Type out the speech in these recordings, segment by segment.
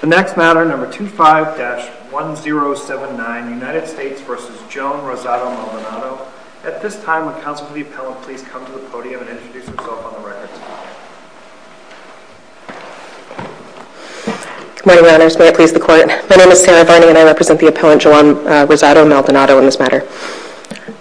The next matter, number 25-1079, United States v. Joan Rosado Maldonado. At this time, would counsel to the appellant please come to the podium and introduce herself on the record. Good morning, Your Honors. May it please the Court. My name is Sarah Varney, and I represent the appellant Joan Rosado Maldonado in this matter.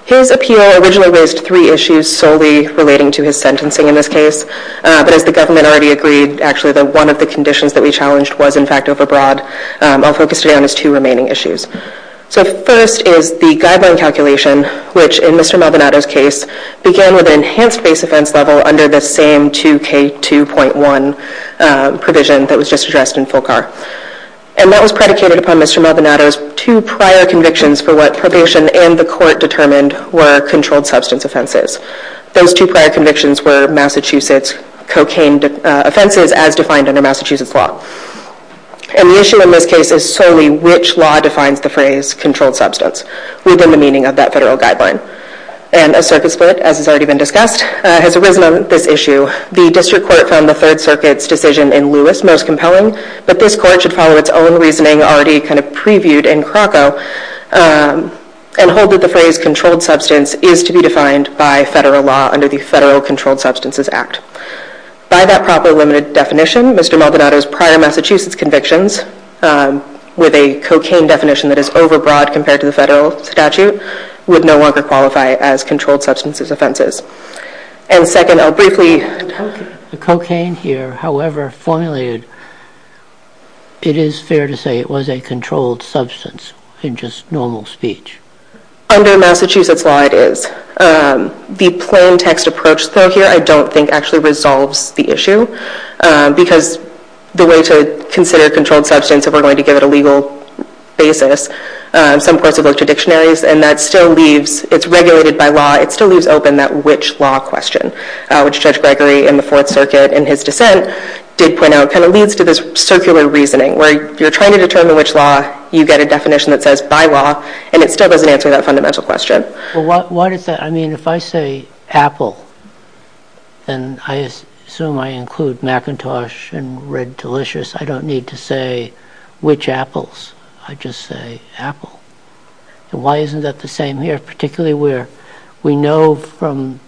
His appeal originally raised three issues solely relating to his sentencing in this case, but as the government already agreed, actually one of the conditions that we challenged was in fact overbroad. I'll focus today on his two remaining issues. So first is the guideline calculation, which in Mr. Maldonado's case, began with an enhanced base offense level under the same 2K2.1 provision that was just addressed in Fulcar. And that was predicated upon Mr. Maldonado's two prior convictions for what probation and the Court determined were controlled substance offenses. Those two prior convictions were Massachusetts cocaine offenses as defined under Massachusetts law. And the issue in this case is solely which law defines the phrase controlled substance within the meaning of that federal guideline. And a circuit split, as has already been discussed, has arisen on this issue. The District Court found the Third Circuit's decision in Lewis most compelling, but this Court should follow its own reasoning already kind of previewed in Kroko and hold that the phrase controlled substance is to be defined by federal law under the Federal Controlled Substances Act. By that proper limited definition, Mr. Maldonado's prior Massachusetts convictions with a cocaine definition that is overbroad compared to the federal statute would no longer qualify as controlled substances offenses. And second, I'll briefly... The cocaine here, however formulated, it is fair to say it was a controlled substance in just normal speech. Under Massachusetts law, it is. The plain text approach, though, here, I don't think actually resolves the issue because the way to consider controlled substance, if we're going to give it a legal basis, some courts have looked to dictionaries, and that still leaves... It's regulated by law, it still leaves open that which law question, which Judge Gregory in the Fourth Circuit in his dissent did point out, kind of leads to this circular reasoning where you're trying to determine which law, you get a definition that says by law, and it still doesn't answer that fundamental question. Why does that... I mean, if I say apple, and I assume I include Macintosh and Red Delicious, I don't need to say which apples, I just say apple. Why isn't that the same here, particularly where we know from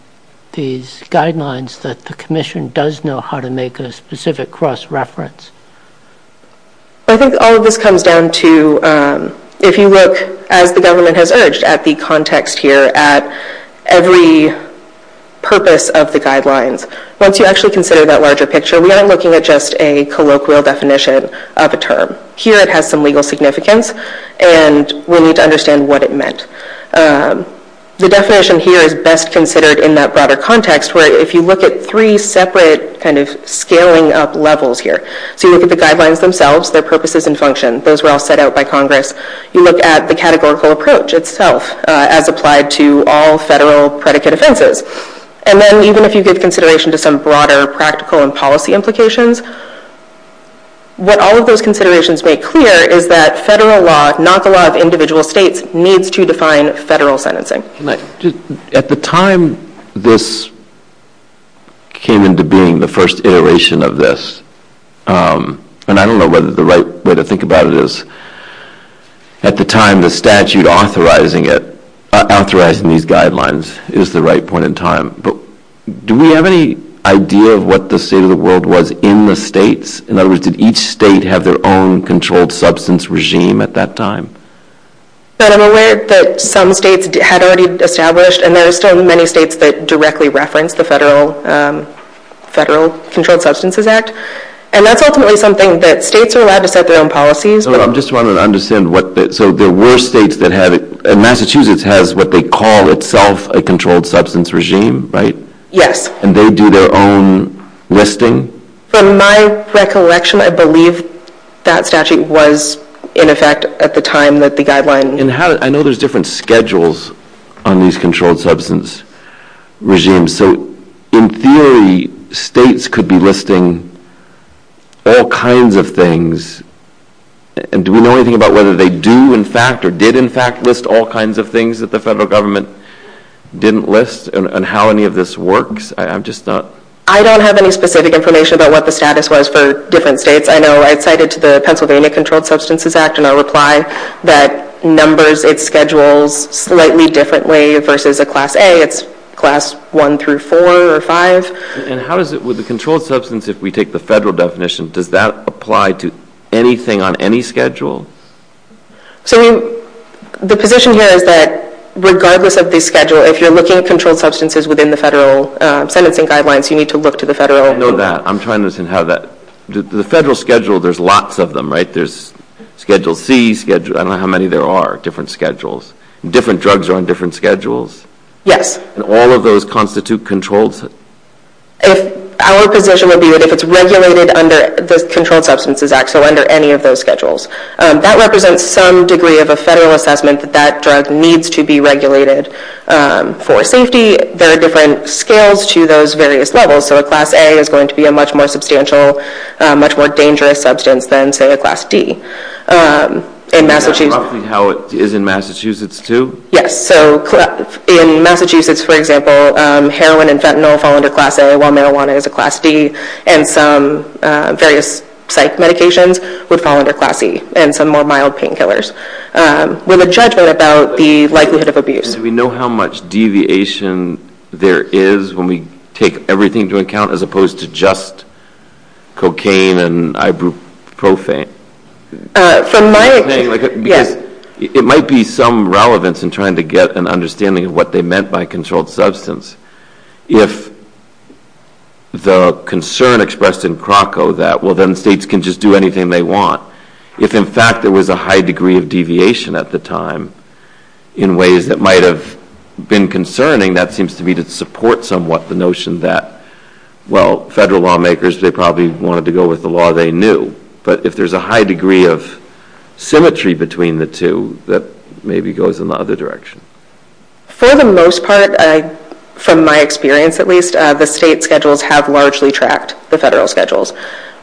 these guidelines that the Commission does know how to make a specific cross-reference? I think all of this comes down to, if you look, as the government has urged, at the context here, at every purpose of the guidelines. Once you actually consider that larger picture, we aren't looking at just a colloquial definition of a term. Here it has some legal significance, and we need to understand what it meant. The definition here is best considered in that broader context where if you look at three separate kind of scaling up levels here. So you look at the guidelines themselves, their purposes and function. Those were all set out by Congress. You look at the categorical approach itself as applied to all federal predicate offenses. And then even if you give consideration to some broader practical and policy implications, what all of those considerations make clear is that federal law, not the law of individual states, needs to define federal sentencing. At the time this came into being, the first iteration of this, and I don't know whether the right way to think about it is, at the time the statute authorizing these guidelines is the right point in time. But do we have any idea of what the state of the world was in the states? In other words, did each state have their own controlled substance regime at that time? But I'm aware that some states had already established, and there are still many states that directly reference the Federal Controlled Substances Act. And that's ultimately something that states are allowed to set their own policies. I'm just trying to understand. So there were states that had it. Massachusetts has what they call itself a controlled substance regime, right? Yes. And they do their own listing? From my recollection, I believe that statute was in effect at the time that the guideline... I know there's different schedules on these controlled substance regimes. So in theory, states could be listing all kinds of things. And do we know anything about whether they do in fact or did in fact list all kinds of things that the Federal Government didn't list and how any of this works? I'm just not... I don't have any specific information about what the status was for different states. I know I cited to the Pennsylvania Controlled Substances Act in a reply that numbers its schedules slightly differently versus a Class A. It's Class 1 through 4 or 5. And how does it, with the controlled substance, if we take the Federal definition, does that apply to anything on any schedule? So the position here is that regardless of the schedule, if you're looking at controlled substances within the federal sentencing guidelines, you need to look to the federal... I didn't know that. I'm trying to understand how that... The federal schedule, there's lots of them, right? There's Schedule C, Schedule... I don't know how many there are, different schedules. Different drugs are on different schedules. Yes. And all of those constitute controls? Our position would be that if it's regulated under the Controlled Substances Act, so under any of those schedules, that represents some degree of a federal assessment that that drug needs to be regulated. For safety, there are different scales to those various levels. So a Class A is going to be a much more substantial, much more dangerous substance than, say, a Class D. And that's roughly how it is in Massachusetts, too? Yes. So in Massachusetts, for example, heroin and fentanyl fall under Class A, while marijuana is a Class D, and some various psych medications would fall under Class E, and some more mild painkillers, with a judgment about the likelihood of abuse. Do we know how much deviation there is when we take everything into account as opposed to just cocaine and ibuprofen? From my... It might be some relevance in trying to get an understanding of what they meant by controlled substance. If the concern expressed in Kroko that, well, then states can just do anything they want, if, in fact, there was a high degree of deviation at the time in ways that might have been concerning, that seems to me to support somewhat the notion that, well, federal lawmakers, they probably wanted to go with the law they knew. But if there's a high degree of symmetry between the two, that maybe goes in the other direction. For the most part, from my experience at least, the state schedules have largely tracked the federal schedules.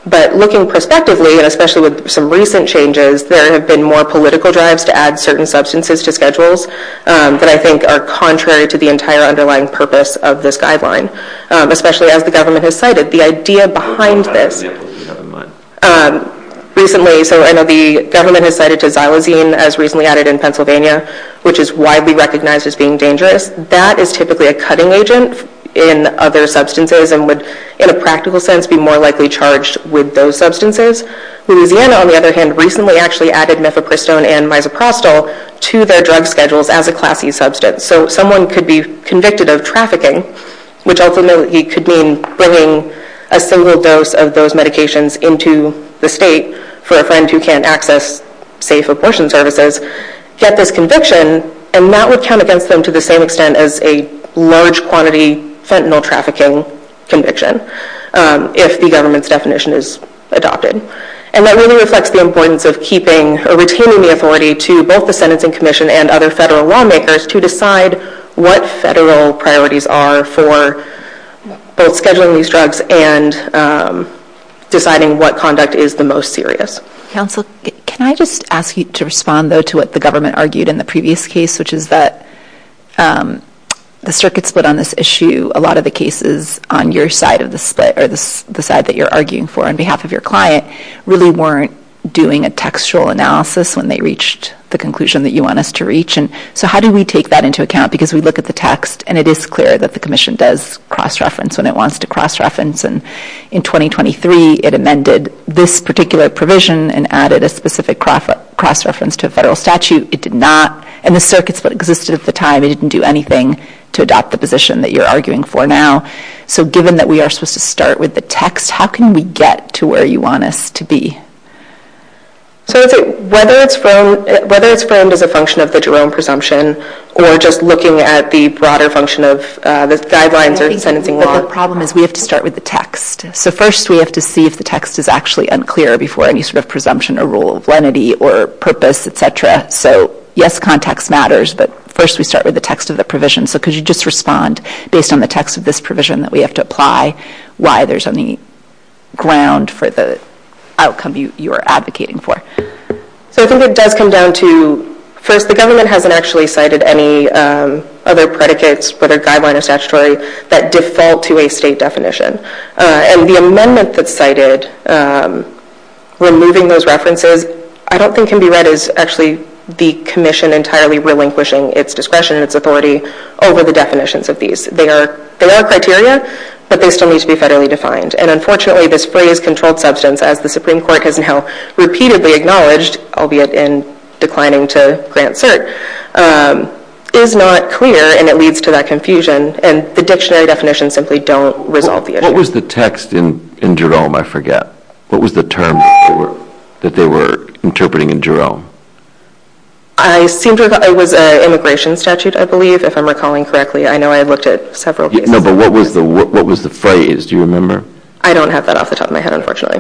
But looking prospectively, and especially with some recent changes, there have been more political drives to add certain substances to schedules that I think are contrary to the entire underlying purpose of this guideline, especially as the government has cited. The idea behind this... Recently, so I know the government has cited to xylosine, as recently added in Pennsylvania, which is widely recognized as being dangerous. That is typically a cutting agent in other substances and would, in a practical sense, be more likely charged with those substances. Louisiana, on the other hand, recently actually added mifepristone and misoprostol to their drug schedules as a class E substance. So someone could be convicted of trafficking, which ultimately could mean bringing a single dose of those medications into the state for a friend who can't access safe abortion services, get this conviction, and that would count against them to the same extent as a large quantity fentanyl trafficking conviction, if the government's definition is adopted. And that really reflects the importance of keeping or retaining the authority to both the Sentencing Commission and other federal lawmakers to decide what federal priorities are for both scheduling these drugs and deciding what conduct is the most serious. Counsel, can I just ask you to respond, though, to what the government argued in the previous case, which is that the circuit split on this issue, a lot of the cases on your side of the split, or the side that you're arguing for on behalf of your client, really weren't doing a textual analysis when they reached the conclusion that you want us to reach. So how do we take that into account? Because we look at the text, and it is clear that the Commission does cross-reference when it wants to cross-reference. And in 2023, it amended this particular provision and added a specific cross-reference to a federal statute. It did not. And the circuit split existed at the time. It didn't do anything to adopt the position that you're arguing for now. So given that we are supposed to start with the text, how can we get to where you want us to be? So whether it's framed as a function of the Jerome presumption or just looking at the broader function of the guidelines or sentencing law? The problem is we have to start with the text. So first we have to see if the text is actually unclear before any sort of presumption or rule of lenity or purpose, etc. So yes, context matters, but first we start with the text of the provision. So could you just respond, based on the text of this provision that we have to apply, why there's any ground for the outcome you are advocating for? So I think it does come down to, first, the government hasn't actually cited any other predicates or other guidelines or statutory that default to a state definition. And the amendment that's cited, removing those references, I don't think can be read as actually the commission entirely relinquishing its discretion and its authority over the definitions of these. They are criteria, but they still need to be federally defined. And unfortunately, this phrase, controlled substance, as the Supreme Court has now repeatedly acknowledged, albeit in declining to grant cert, is not clear and it leads to that confusion. And the dictionary definitions simply don't resolve the issue. What was the text in Jerome, I forget? What was the term that they were interpreting in Jerome? It was an immigration statute, I believe, if I'm recalling correctly. I know I looked at several pieces. No, but what was the phrase? Do you remember? I don't have that off the top of my head, unfortunately.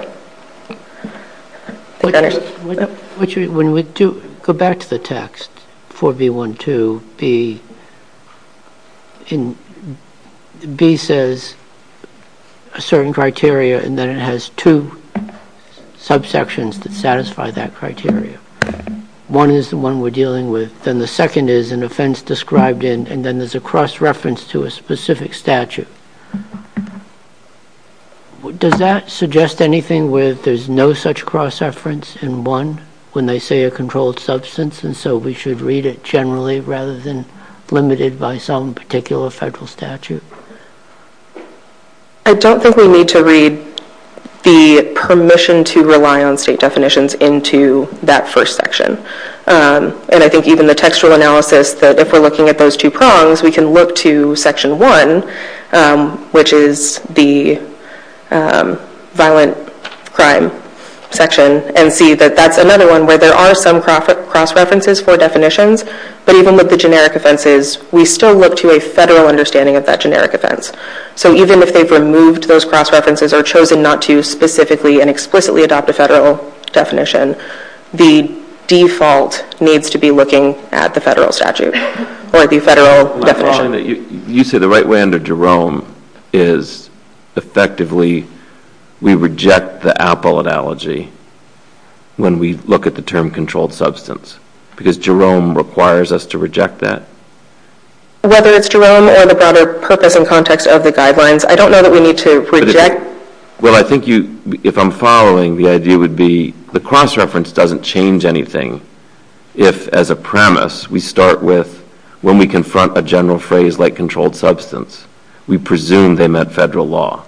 When we go back to the text for B.1.2, B says a certain criteria and then it has two subsections that satisfy that criteria. One is the one we're dealing with, then the second is an offense described in and then there's a cross-reference to a specific statute. Does that suggest anything where there's no such cross-reference in one when they say a controlled substance and so we should read it generally rather than limited by some particular federal statute? I don't think we need to read the permission to rely on state definitions into that first section. And I think even the textual analysis, if we're looking at those two prongs, we can look to Section 1, which is the violent crime section, and see that that's another one where there are some cross-references for definitions but even with the generic offenses, we still look to a federal understanding of that generic offense. So even if they've removed those cross-references or chosen not to specifically and explicitly adopt a federal definition, the default needs to be looking at the federal statute or the federal definition. You say the right way under Jerome is effectively we reject the Apple analogy when we look at the term controlled substance because Jerome requires us to reject that. Whether it's Jerome or the broader purpose and context of the guidelines, I don't know that we need to reject. Well, I think if I'm following, the idea would be the cross-reference doesn't change anything if, as a premise, we start with when we confront a general phrase like controlled substance, we presume they met federal law.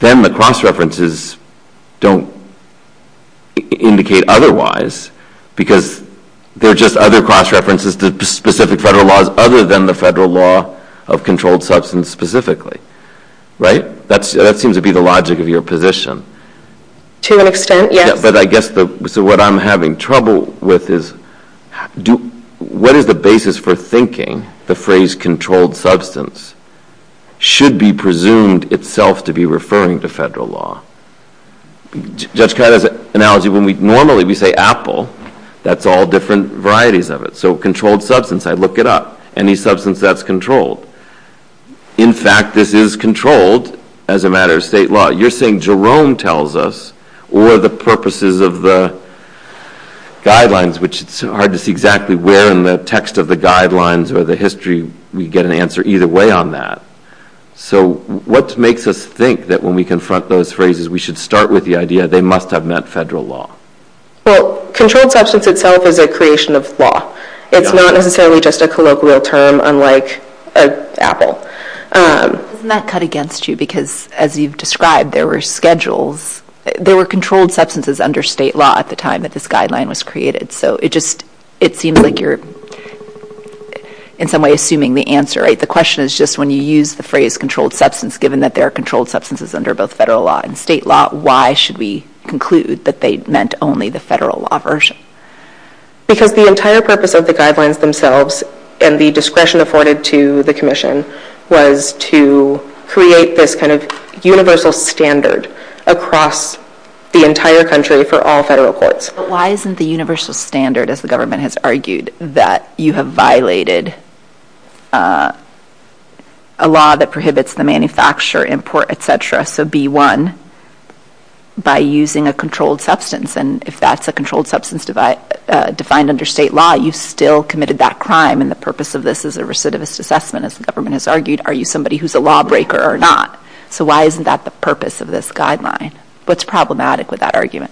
Then the cross-references don't indicate otherwise because they're just other cross-references to specific federal laws other than the federal law of controlled substance specifically. Right? That seems to be the logic of your position. To an extent, yes. But I guess what I'm having trouble with is what is the basis for thinking the phrase controlled substance should be presumed itself to be referring to federal law? Judge Kata's analogy, when normally we say Apple, that's all different varieties of it. So controlled substance, I look it up. Any substance that's controlled. In fact, this is controlled as a matter of state law. You're saying Jerome tells us or the purposes of the guidelines, which it's hard to see exactly where in the text of the guidelines or the history we get an answer either way on that. So what makes us think that when we confront those phrases we should start with the idea they must have met federal law? Well, controlled substance itself is a creation of law. It's not necessarily just a colloquial term unlike Apple. Doesn't that cut against you? Because as you've described, there were schedules. There were controlled substances under state law at the time that this guideline was created. So it just seems like you're in some way assuming the answer. The question is just when you use the phrase controlled substance, given that there are controlled substances under both federal law and state law, why should we conclude that they meant only the federal law version? Because the entire purpose of the guidelines themselves and the discretion afforded to the Commission was to create this kind of universal standard across the entire country for all federal courts. But why isn't the universal standard, as the government has argued, that you have violated a law that prohibits the manufacture, import, etc., so B1, by using a controlled substance? And if that's a controlled substance defined under state law, you've still committed that crime, and the purpose of this is a recidivist assessment, as the government has argued. Are you somebody who's a lawbreaker or not? So why isn't that the purpose of this guideline? What's problematic with that argument?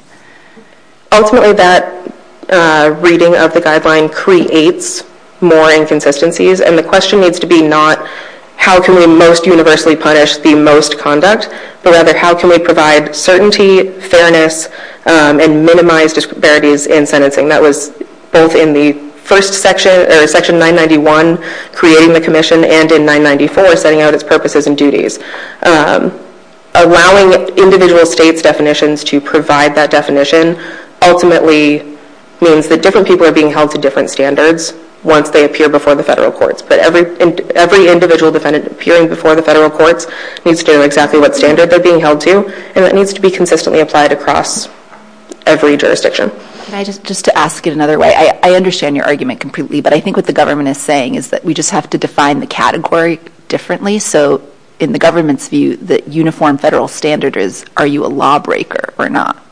Ultimately, that reading of the guideline creates more inconsistencies, and the question needs to be not how can we most universally punish the most conduct, but rather how can we provide certainty, fairness, and minimize disparities in sentencing? That was both in Section 991, creating the Commission, and in 994, setting out its purposes and duties. Allowing individual states' definitions to provide that definition ultimately means that different people are being held to different standards once they appear before the federal courts. But every individual defendant appearing before the federal courts needs to know exactly what standard they're being held to, and that needs to be consistently applied across every jurisdiction. Just to ask it another way, I understand your argument completely, but I think what the government is saying is that we just have to define the category differently. So in the government's view, the uniform federal standard is are you a lawbreaker or not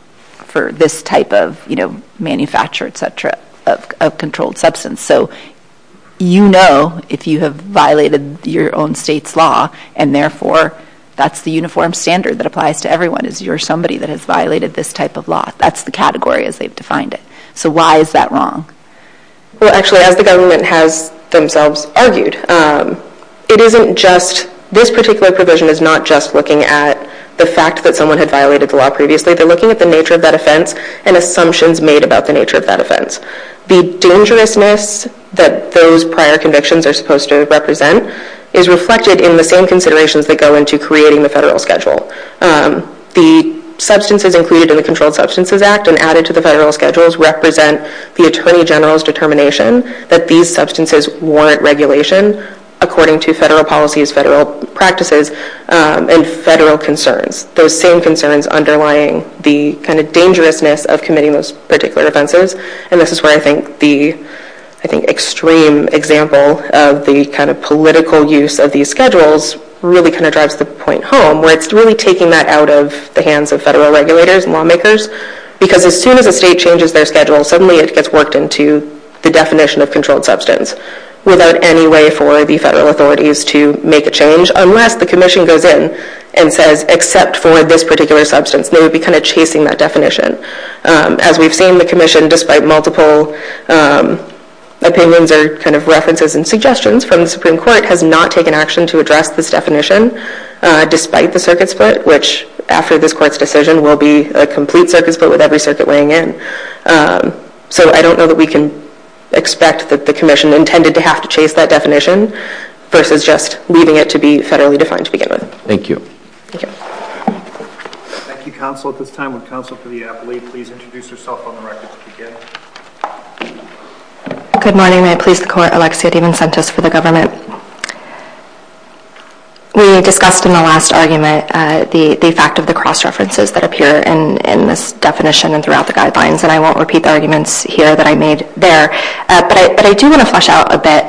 for this type of manufacture, etc., of controlled substance? So you know if you have violated your own state's law, and therefore that's the uniform standard that applies to everyone, is you're somebody that has violated this type of law. That's the category as they've defined it. So why is that wrong? Well, actually, as the government has themselves argued, it isn't just this particular provision is not just looking at the fact that someone had violated the law previously. They're looking at the nature of that offense and assumptions made about the nature of that offense. The dangerousness that those prior convictions are supposed to represent is reflected in the same considerations that go into creating the federal schedule. The substances included in the Controlled Substances Act and added to the federal schedules represent the Attorney General's determination that these substances warrant regulation according to federal policies, federal practices, and federal concerns. Those same concerns underlying the kind of dangerousness of committing those particular offenses. And this is where I think the extreme example of the kind of political use of these schedules really kind of drives the point home, where it's really taking that out of the hands of federal regulators and lawmakers. Because as soon as a state changes their schedule, suddenly it gets worked into the definition of controlled substance without any way for the federal authorities to make a change unless the commission goes in and says, except for this particular substance. They would be kind of chasing that definition. As we've seen, the commission, despite multiple opinions or kind of references and suggestions from the Supreme Court, has not taken action to address this definition despite the circuit split, which after this court's decision will be a complete circuit split with every circuit weighing in. So I don't know that we can expect that the commission intended to have to chase that definition versus just leaving it to be federally defined to begin with. Thank you. Thank you. Thank you, Counsel. At this time, would Counsel for the Appellee please introduce herself on the record to begin? Good morning. Good morning. May it please the Court, Alexia DiMincentis for the government. We discussed in the last argument the fact of the cross-references that appear in this definition and throughout the guidelines, and I won't repeat the arguments here that I made there. But I do want to flesh out a bit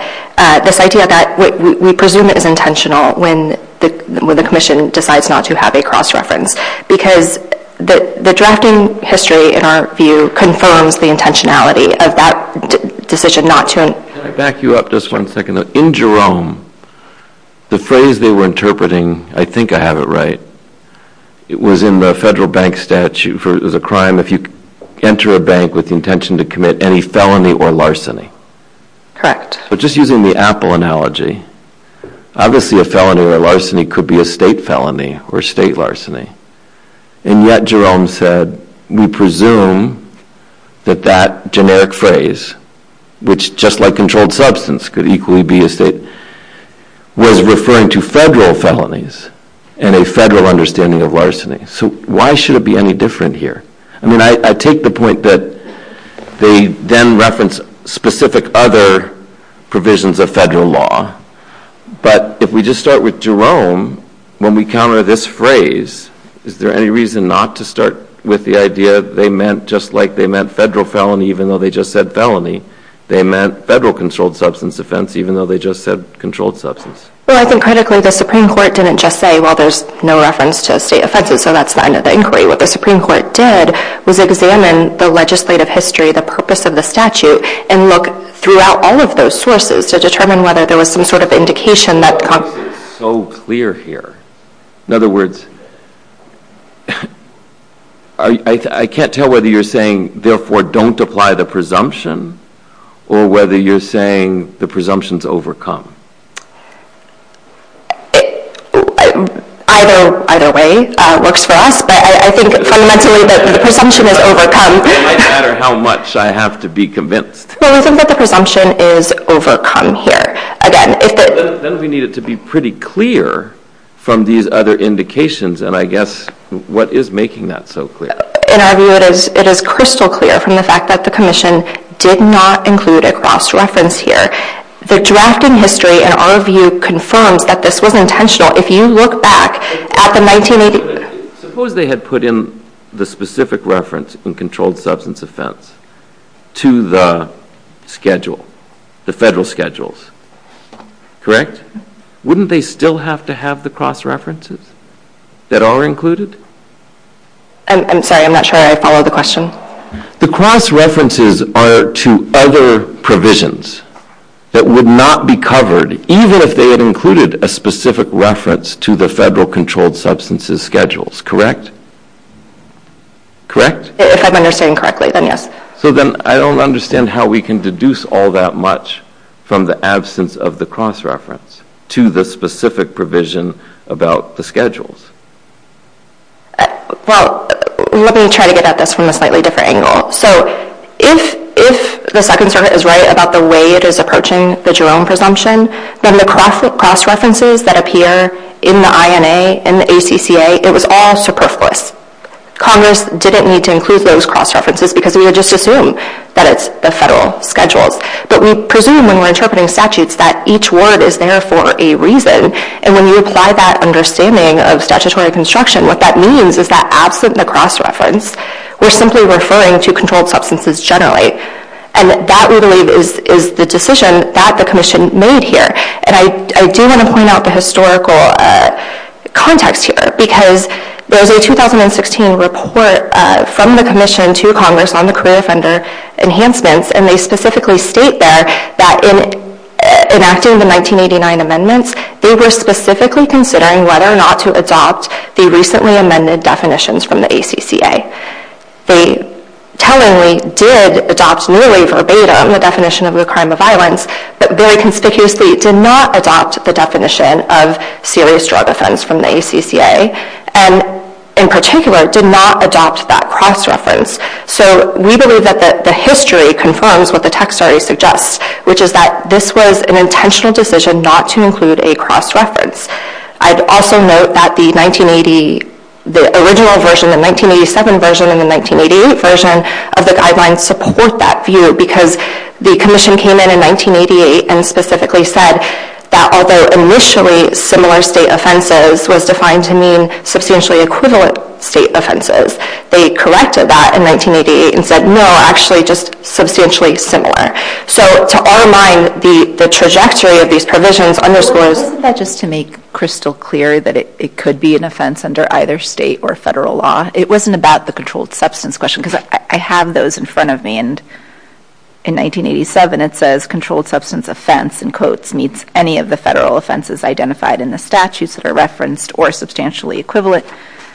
this idea that we presume it is intentional when the commission decides not to have a cross-reference because the drafting history, in our view, confirms the intentionality of that decision not to. Can I back you up just one second? In Jerome, the phrase they were interpreting, I think I have it right, was in the federal bank statute for the crime if you enter a bank with the intention to commit any felony or larceny. Correct. But just using the Apple analogy, obviously a felony or larceny could be a state felony or a state larceny. And yet Jerome said we presume that that generic phrase, which just like controlled substance could equally be a state, was referring to federal felonies and a federal understanding of larceny. So why should it be any different here? I mean, I take the point that they then reference specific other provisions of federal law. But if we just start with Jerome, when we counter this phrase, is there any reason not to start with the idea they meant just like they meant federal felony even though they just said felony? They meant federal controlled substance offense even though they just said controlled substance. Well, I think critically the Supreme Court didn't just say, well, there's no reference to state offenses, so that's fine at the inquiry. What the Supreme Court did was examine the legislative history, the purpose of the statute, and look throughout all of those sources to determine whether there was some sort of indication that Congress is so clear here. In other words, I can't tell whether you're saying, therefore don't apply the presumption, or whether you're saying the presumption's overcome. Either way works for us, but I think fundamentally that the presumption is overcome. It might matter how much I have to be convinced. Well, we think that the presumption is overcome here. Then we need it to be pretty clear from these other indications, and I guess what is making that so clear? In our view, it is crystal clear from the fact that the commission did not include a cross-reference here. The drafting history, in our view, confirms that this was intentional if you look back at the 1980s. Suppose they had put in the specific reference in controlled substance offense to the schedule, the federal schedules, correct? Wouldn't they still have to have the cross-references that are included? I'm sorry, I'm not sure I follow the question. The cross-references are to other provisions that would not be covered even if they had included a specific reference to the federal controlled substances schedules, correct? Correct? If I'm understanding correctly, then yes. So then I don't understand how we can deduce all that much from the absence of the cross-reference to the specific provision about the schedules. Well, let me try to get at this from a slightly different angle. So if the Second Circuit is right about the way it is approaching the Jerome presumption, then the cross-references that appear in the INA and the ACCA, it was all superfluous. Congress didn't need to include those cross-references because we would just assume that it's the federal schedules. But we presume when we're interpreting statutes that each word is there for a reason. And when you apply that understanding of statutory construction, what that means is that absent the cross-reference, we're simply referring to controlled substances generally. And that, we believe, is the decision that the Commission made here. And I do want to point out the historical context here because there's a 2016 report from the Commission to Congress on the career offender enhancements, and they specifically state there that in enacting the 1989 amendments, they were specifically considering whether or not to adopt the recently amended definitions from the ACCA. They tellingly did adopt newly verbatim the definition of a crime of violence, but very conspicuously did not adopt the definition of serious drug offense from the ACCA. And in particular, did not adopt that cross-reference. So we believe that the history confirms what the text already suggests, which is that this was an intentional decision not to include a cross-reference. I'd also note that the 1980, the original version, the 1987 version and the 1988 version of the guidelines support that view because the Commission came in in 1988 and specifically said that although initially similar state offenses was defined to mean substantially equivalent state offenses, they corrected that in 1988 and said, no, actually, just substantially similar. So to our mind, the trajectory of these provisions underscores... Well, isn't that just to make crystal clear that it could be an offense under either state or federal law? It wasn't about the controlled substance question because I have those in front of me. And in 1987, it says, controlled substance offense, in quotes, meets any of the federal offenses identified in the statutes that are referenced or substantially equivalent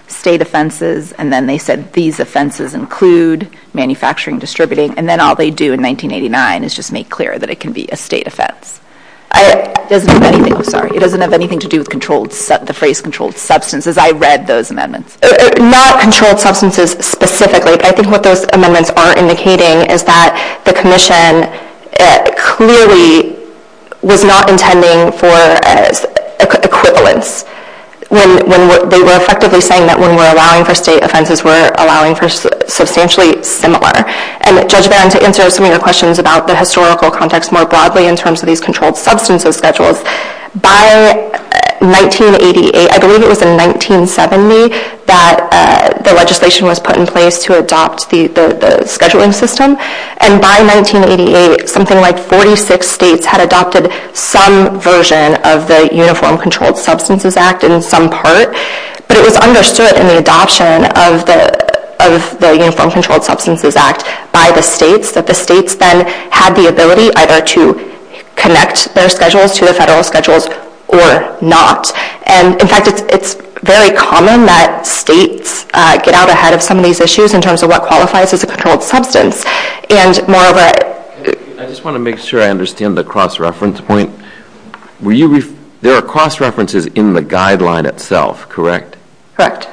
state offenses. And then they said these offenses include manufacturing, distributing. And then all they do in 1989 is just make clear that it can be a state offense. It doesn't have anything to do with the phrase controlled substances. I read those amendments. Not controlled substances specifically, but I think what those amendments are indicating is that the Commission clearly was not intending for equivalence when they were effectively saying that when we're allowing for state offenses, we're allowing for substantially similar. And Judge Barron, to answer some of your questions about the historical context more broadly in terms of these controlled substances schedules, by 1988, I believe it was in 1970, that the legislation was put in place to adopt the scheduling system. And by 1988, something like 46 states had adopted some version of the Uniform Controlled Substances Act in some part. But it was understood in the adoption of the Uniform Controlled Substances Act by the states that the states then had the ability either to connect their schedules to the federal schedules or not. And in fact, it's very common that states get out ahead of some of these issues in terms of what qualifies as a controlled substance. And moreover... I just want to make sure I understand the cross-reference point. There are cross-references in the guideline itself, correct? Correct.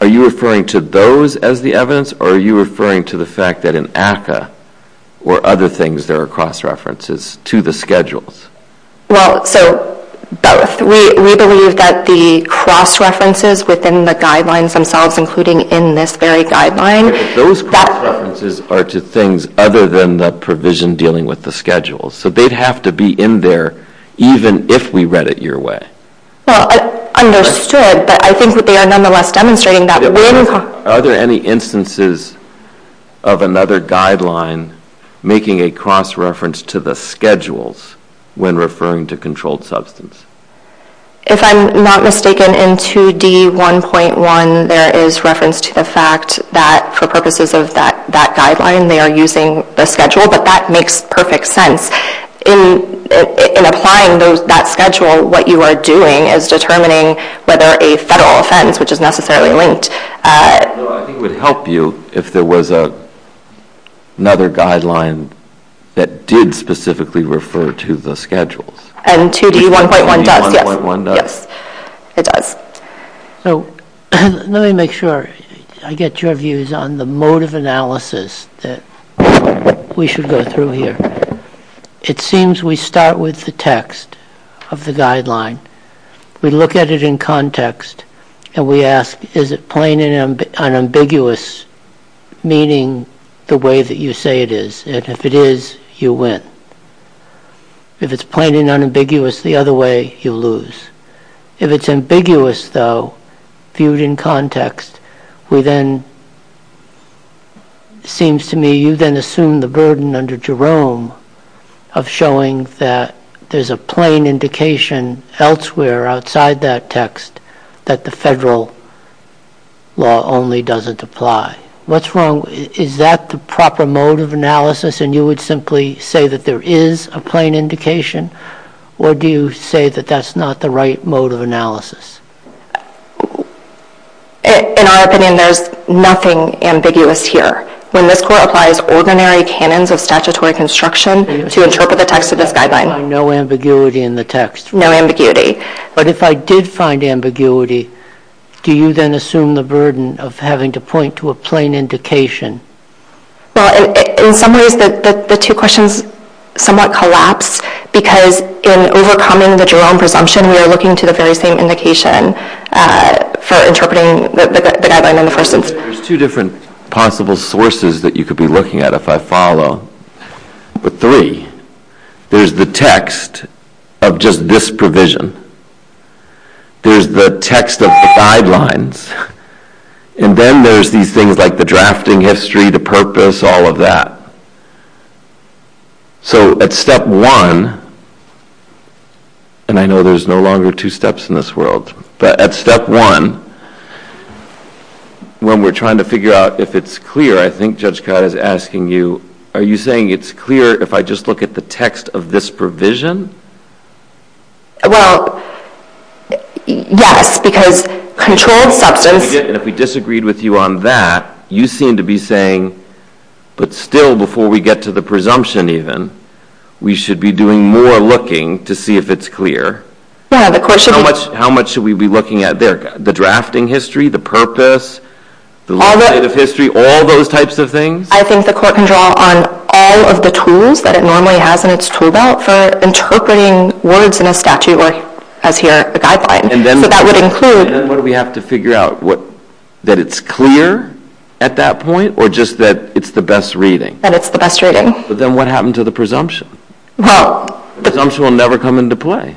Are you referring to those as the evidence, or are you referring to the fact that in ACCA or other things, there are cross-references to the schedules? Well, so both. We believe that the cross-references within the guidelines themselves, including in this very guideline... Those cross-references are to things other than the provision dealing with the schedules. So they'd have to be in there even if we read it your way. Well, understood. But I think that they are nonetheless demonstrating that when... Are there any instances of another guideline making a cross-reference to the schedules when referring to controlled substance? If I'm not mistaken, in 2D1.1, there is reference to the fact that for purposes of that guideline, they are using the schedule, but that makes perfect sense. In applying that schedule, what you are doing is determining whether a federal offense, which is necessarily linked... I think it would help you if there was another guideline that did specifically refer to the schedules. And 2D1.1 does, yes. 2D1.1 does? Yes, it does. So let me make sure I get your views on the mode of analysis that we should go through here. It seems we start with the text of the guideline. We look at it in context, and we ask, is it plain and unambiguous, meaning the way that you say it is? And if it is, you win. If it's plain and unambiguous the other way, you lose. If it's ambiguous, though, viewed in context, we then... It seems to me you then assume the burden under Jerome of showing that there's a plain indication elsewhere, outside that text, that the federal law only doesn't apply. What's wrong? Is that the proper mode of analysis, and you would simply say that there is a plain indication? Or do you say that that's not the right mode of analysis? In our opinion, there's nothing ambiguous here. When this Court applies ordinary canons of statutory construction to interpret the text of this guideline... You find no ambiguity in the text? No ambiguity. But if I did find ambiguity, do you then assume the burden of having to point to a plain indication? In some ways, the two questions somewhat collapse because in overcoming the Jerome presumption, we are looking to the very same indication for interpreting the guideline in the first instance. There's two different possible sources that you could be looking at, if I follow. But three, there's the text of just this provision. There's the text of the guidelines. And then there's these things like the drafting history, the purpose, all of that. So at step one, and I know there's no longer two steps in this world, but at step one, when we're trying to figure out if it's clear, I think Judge Codd is asking you, are you saying it's clear if I just look at the text of this provision? Well, yes, because controlled substance... And if we disagreed with you on that, you seem to be saying, but still before we get to the presumption even, we should be doing more looking to see if it's clear. Yeah, the Court should be... How much should we be looking at there? The drafting history, the purpose, the legislative history, all those types of things? I think the Court can draw on all of the tools that it normally has in its tool belt for interpreting words in a statute, or as here, a guideline. So that would include... And then what do we have to figure out? That it's clear at that point, or just that it's the best reading? That it's the best reading. But then what happened to the presumption? Well... The presumption will never come into play.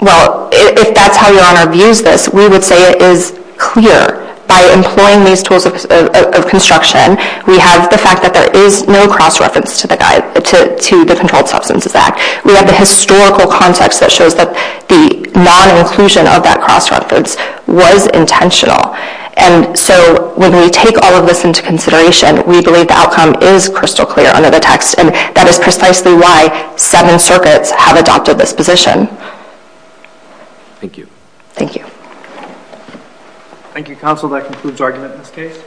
Well, if that's how Your Honor views this, we would say it is clear. By employing these tools of construction, we have the fact that there is no cross-reference to the Controlled Substances Act. We have the historical context that shows that the non-inclusion of that cross-reference was intentional. And so when we take all of this into consideration, we believe the outcome is crystal clear under the text, and that is precisely why seven circuits have adopted this position. Thank you. Thank you. Thank you, Counsel. That concludes argument in this case.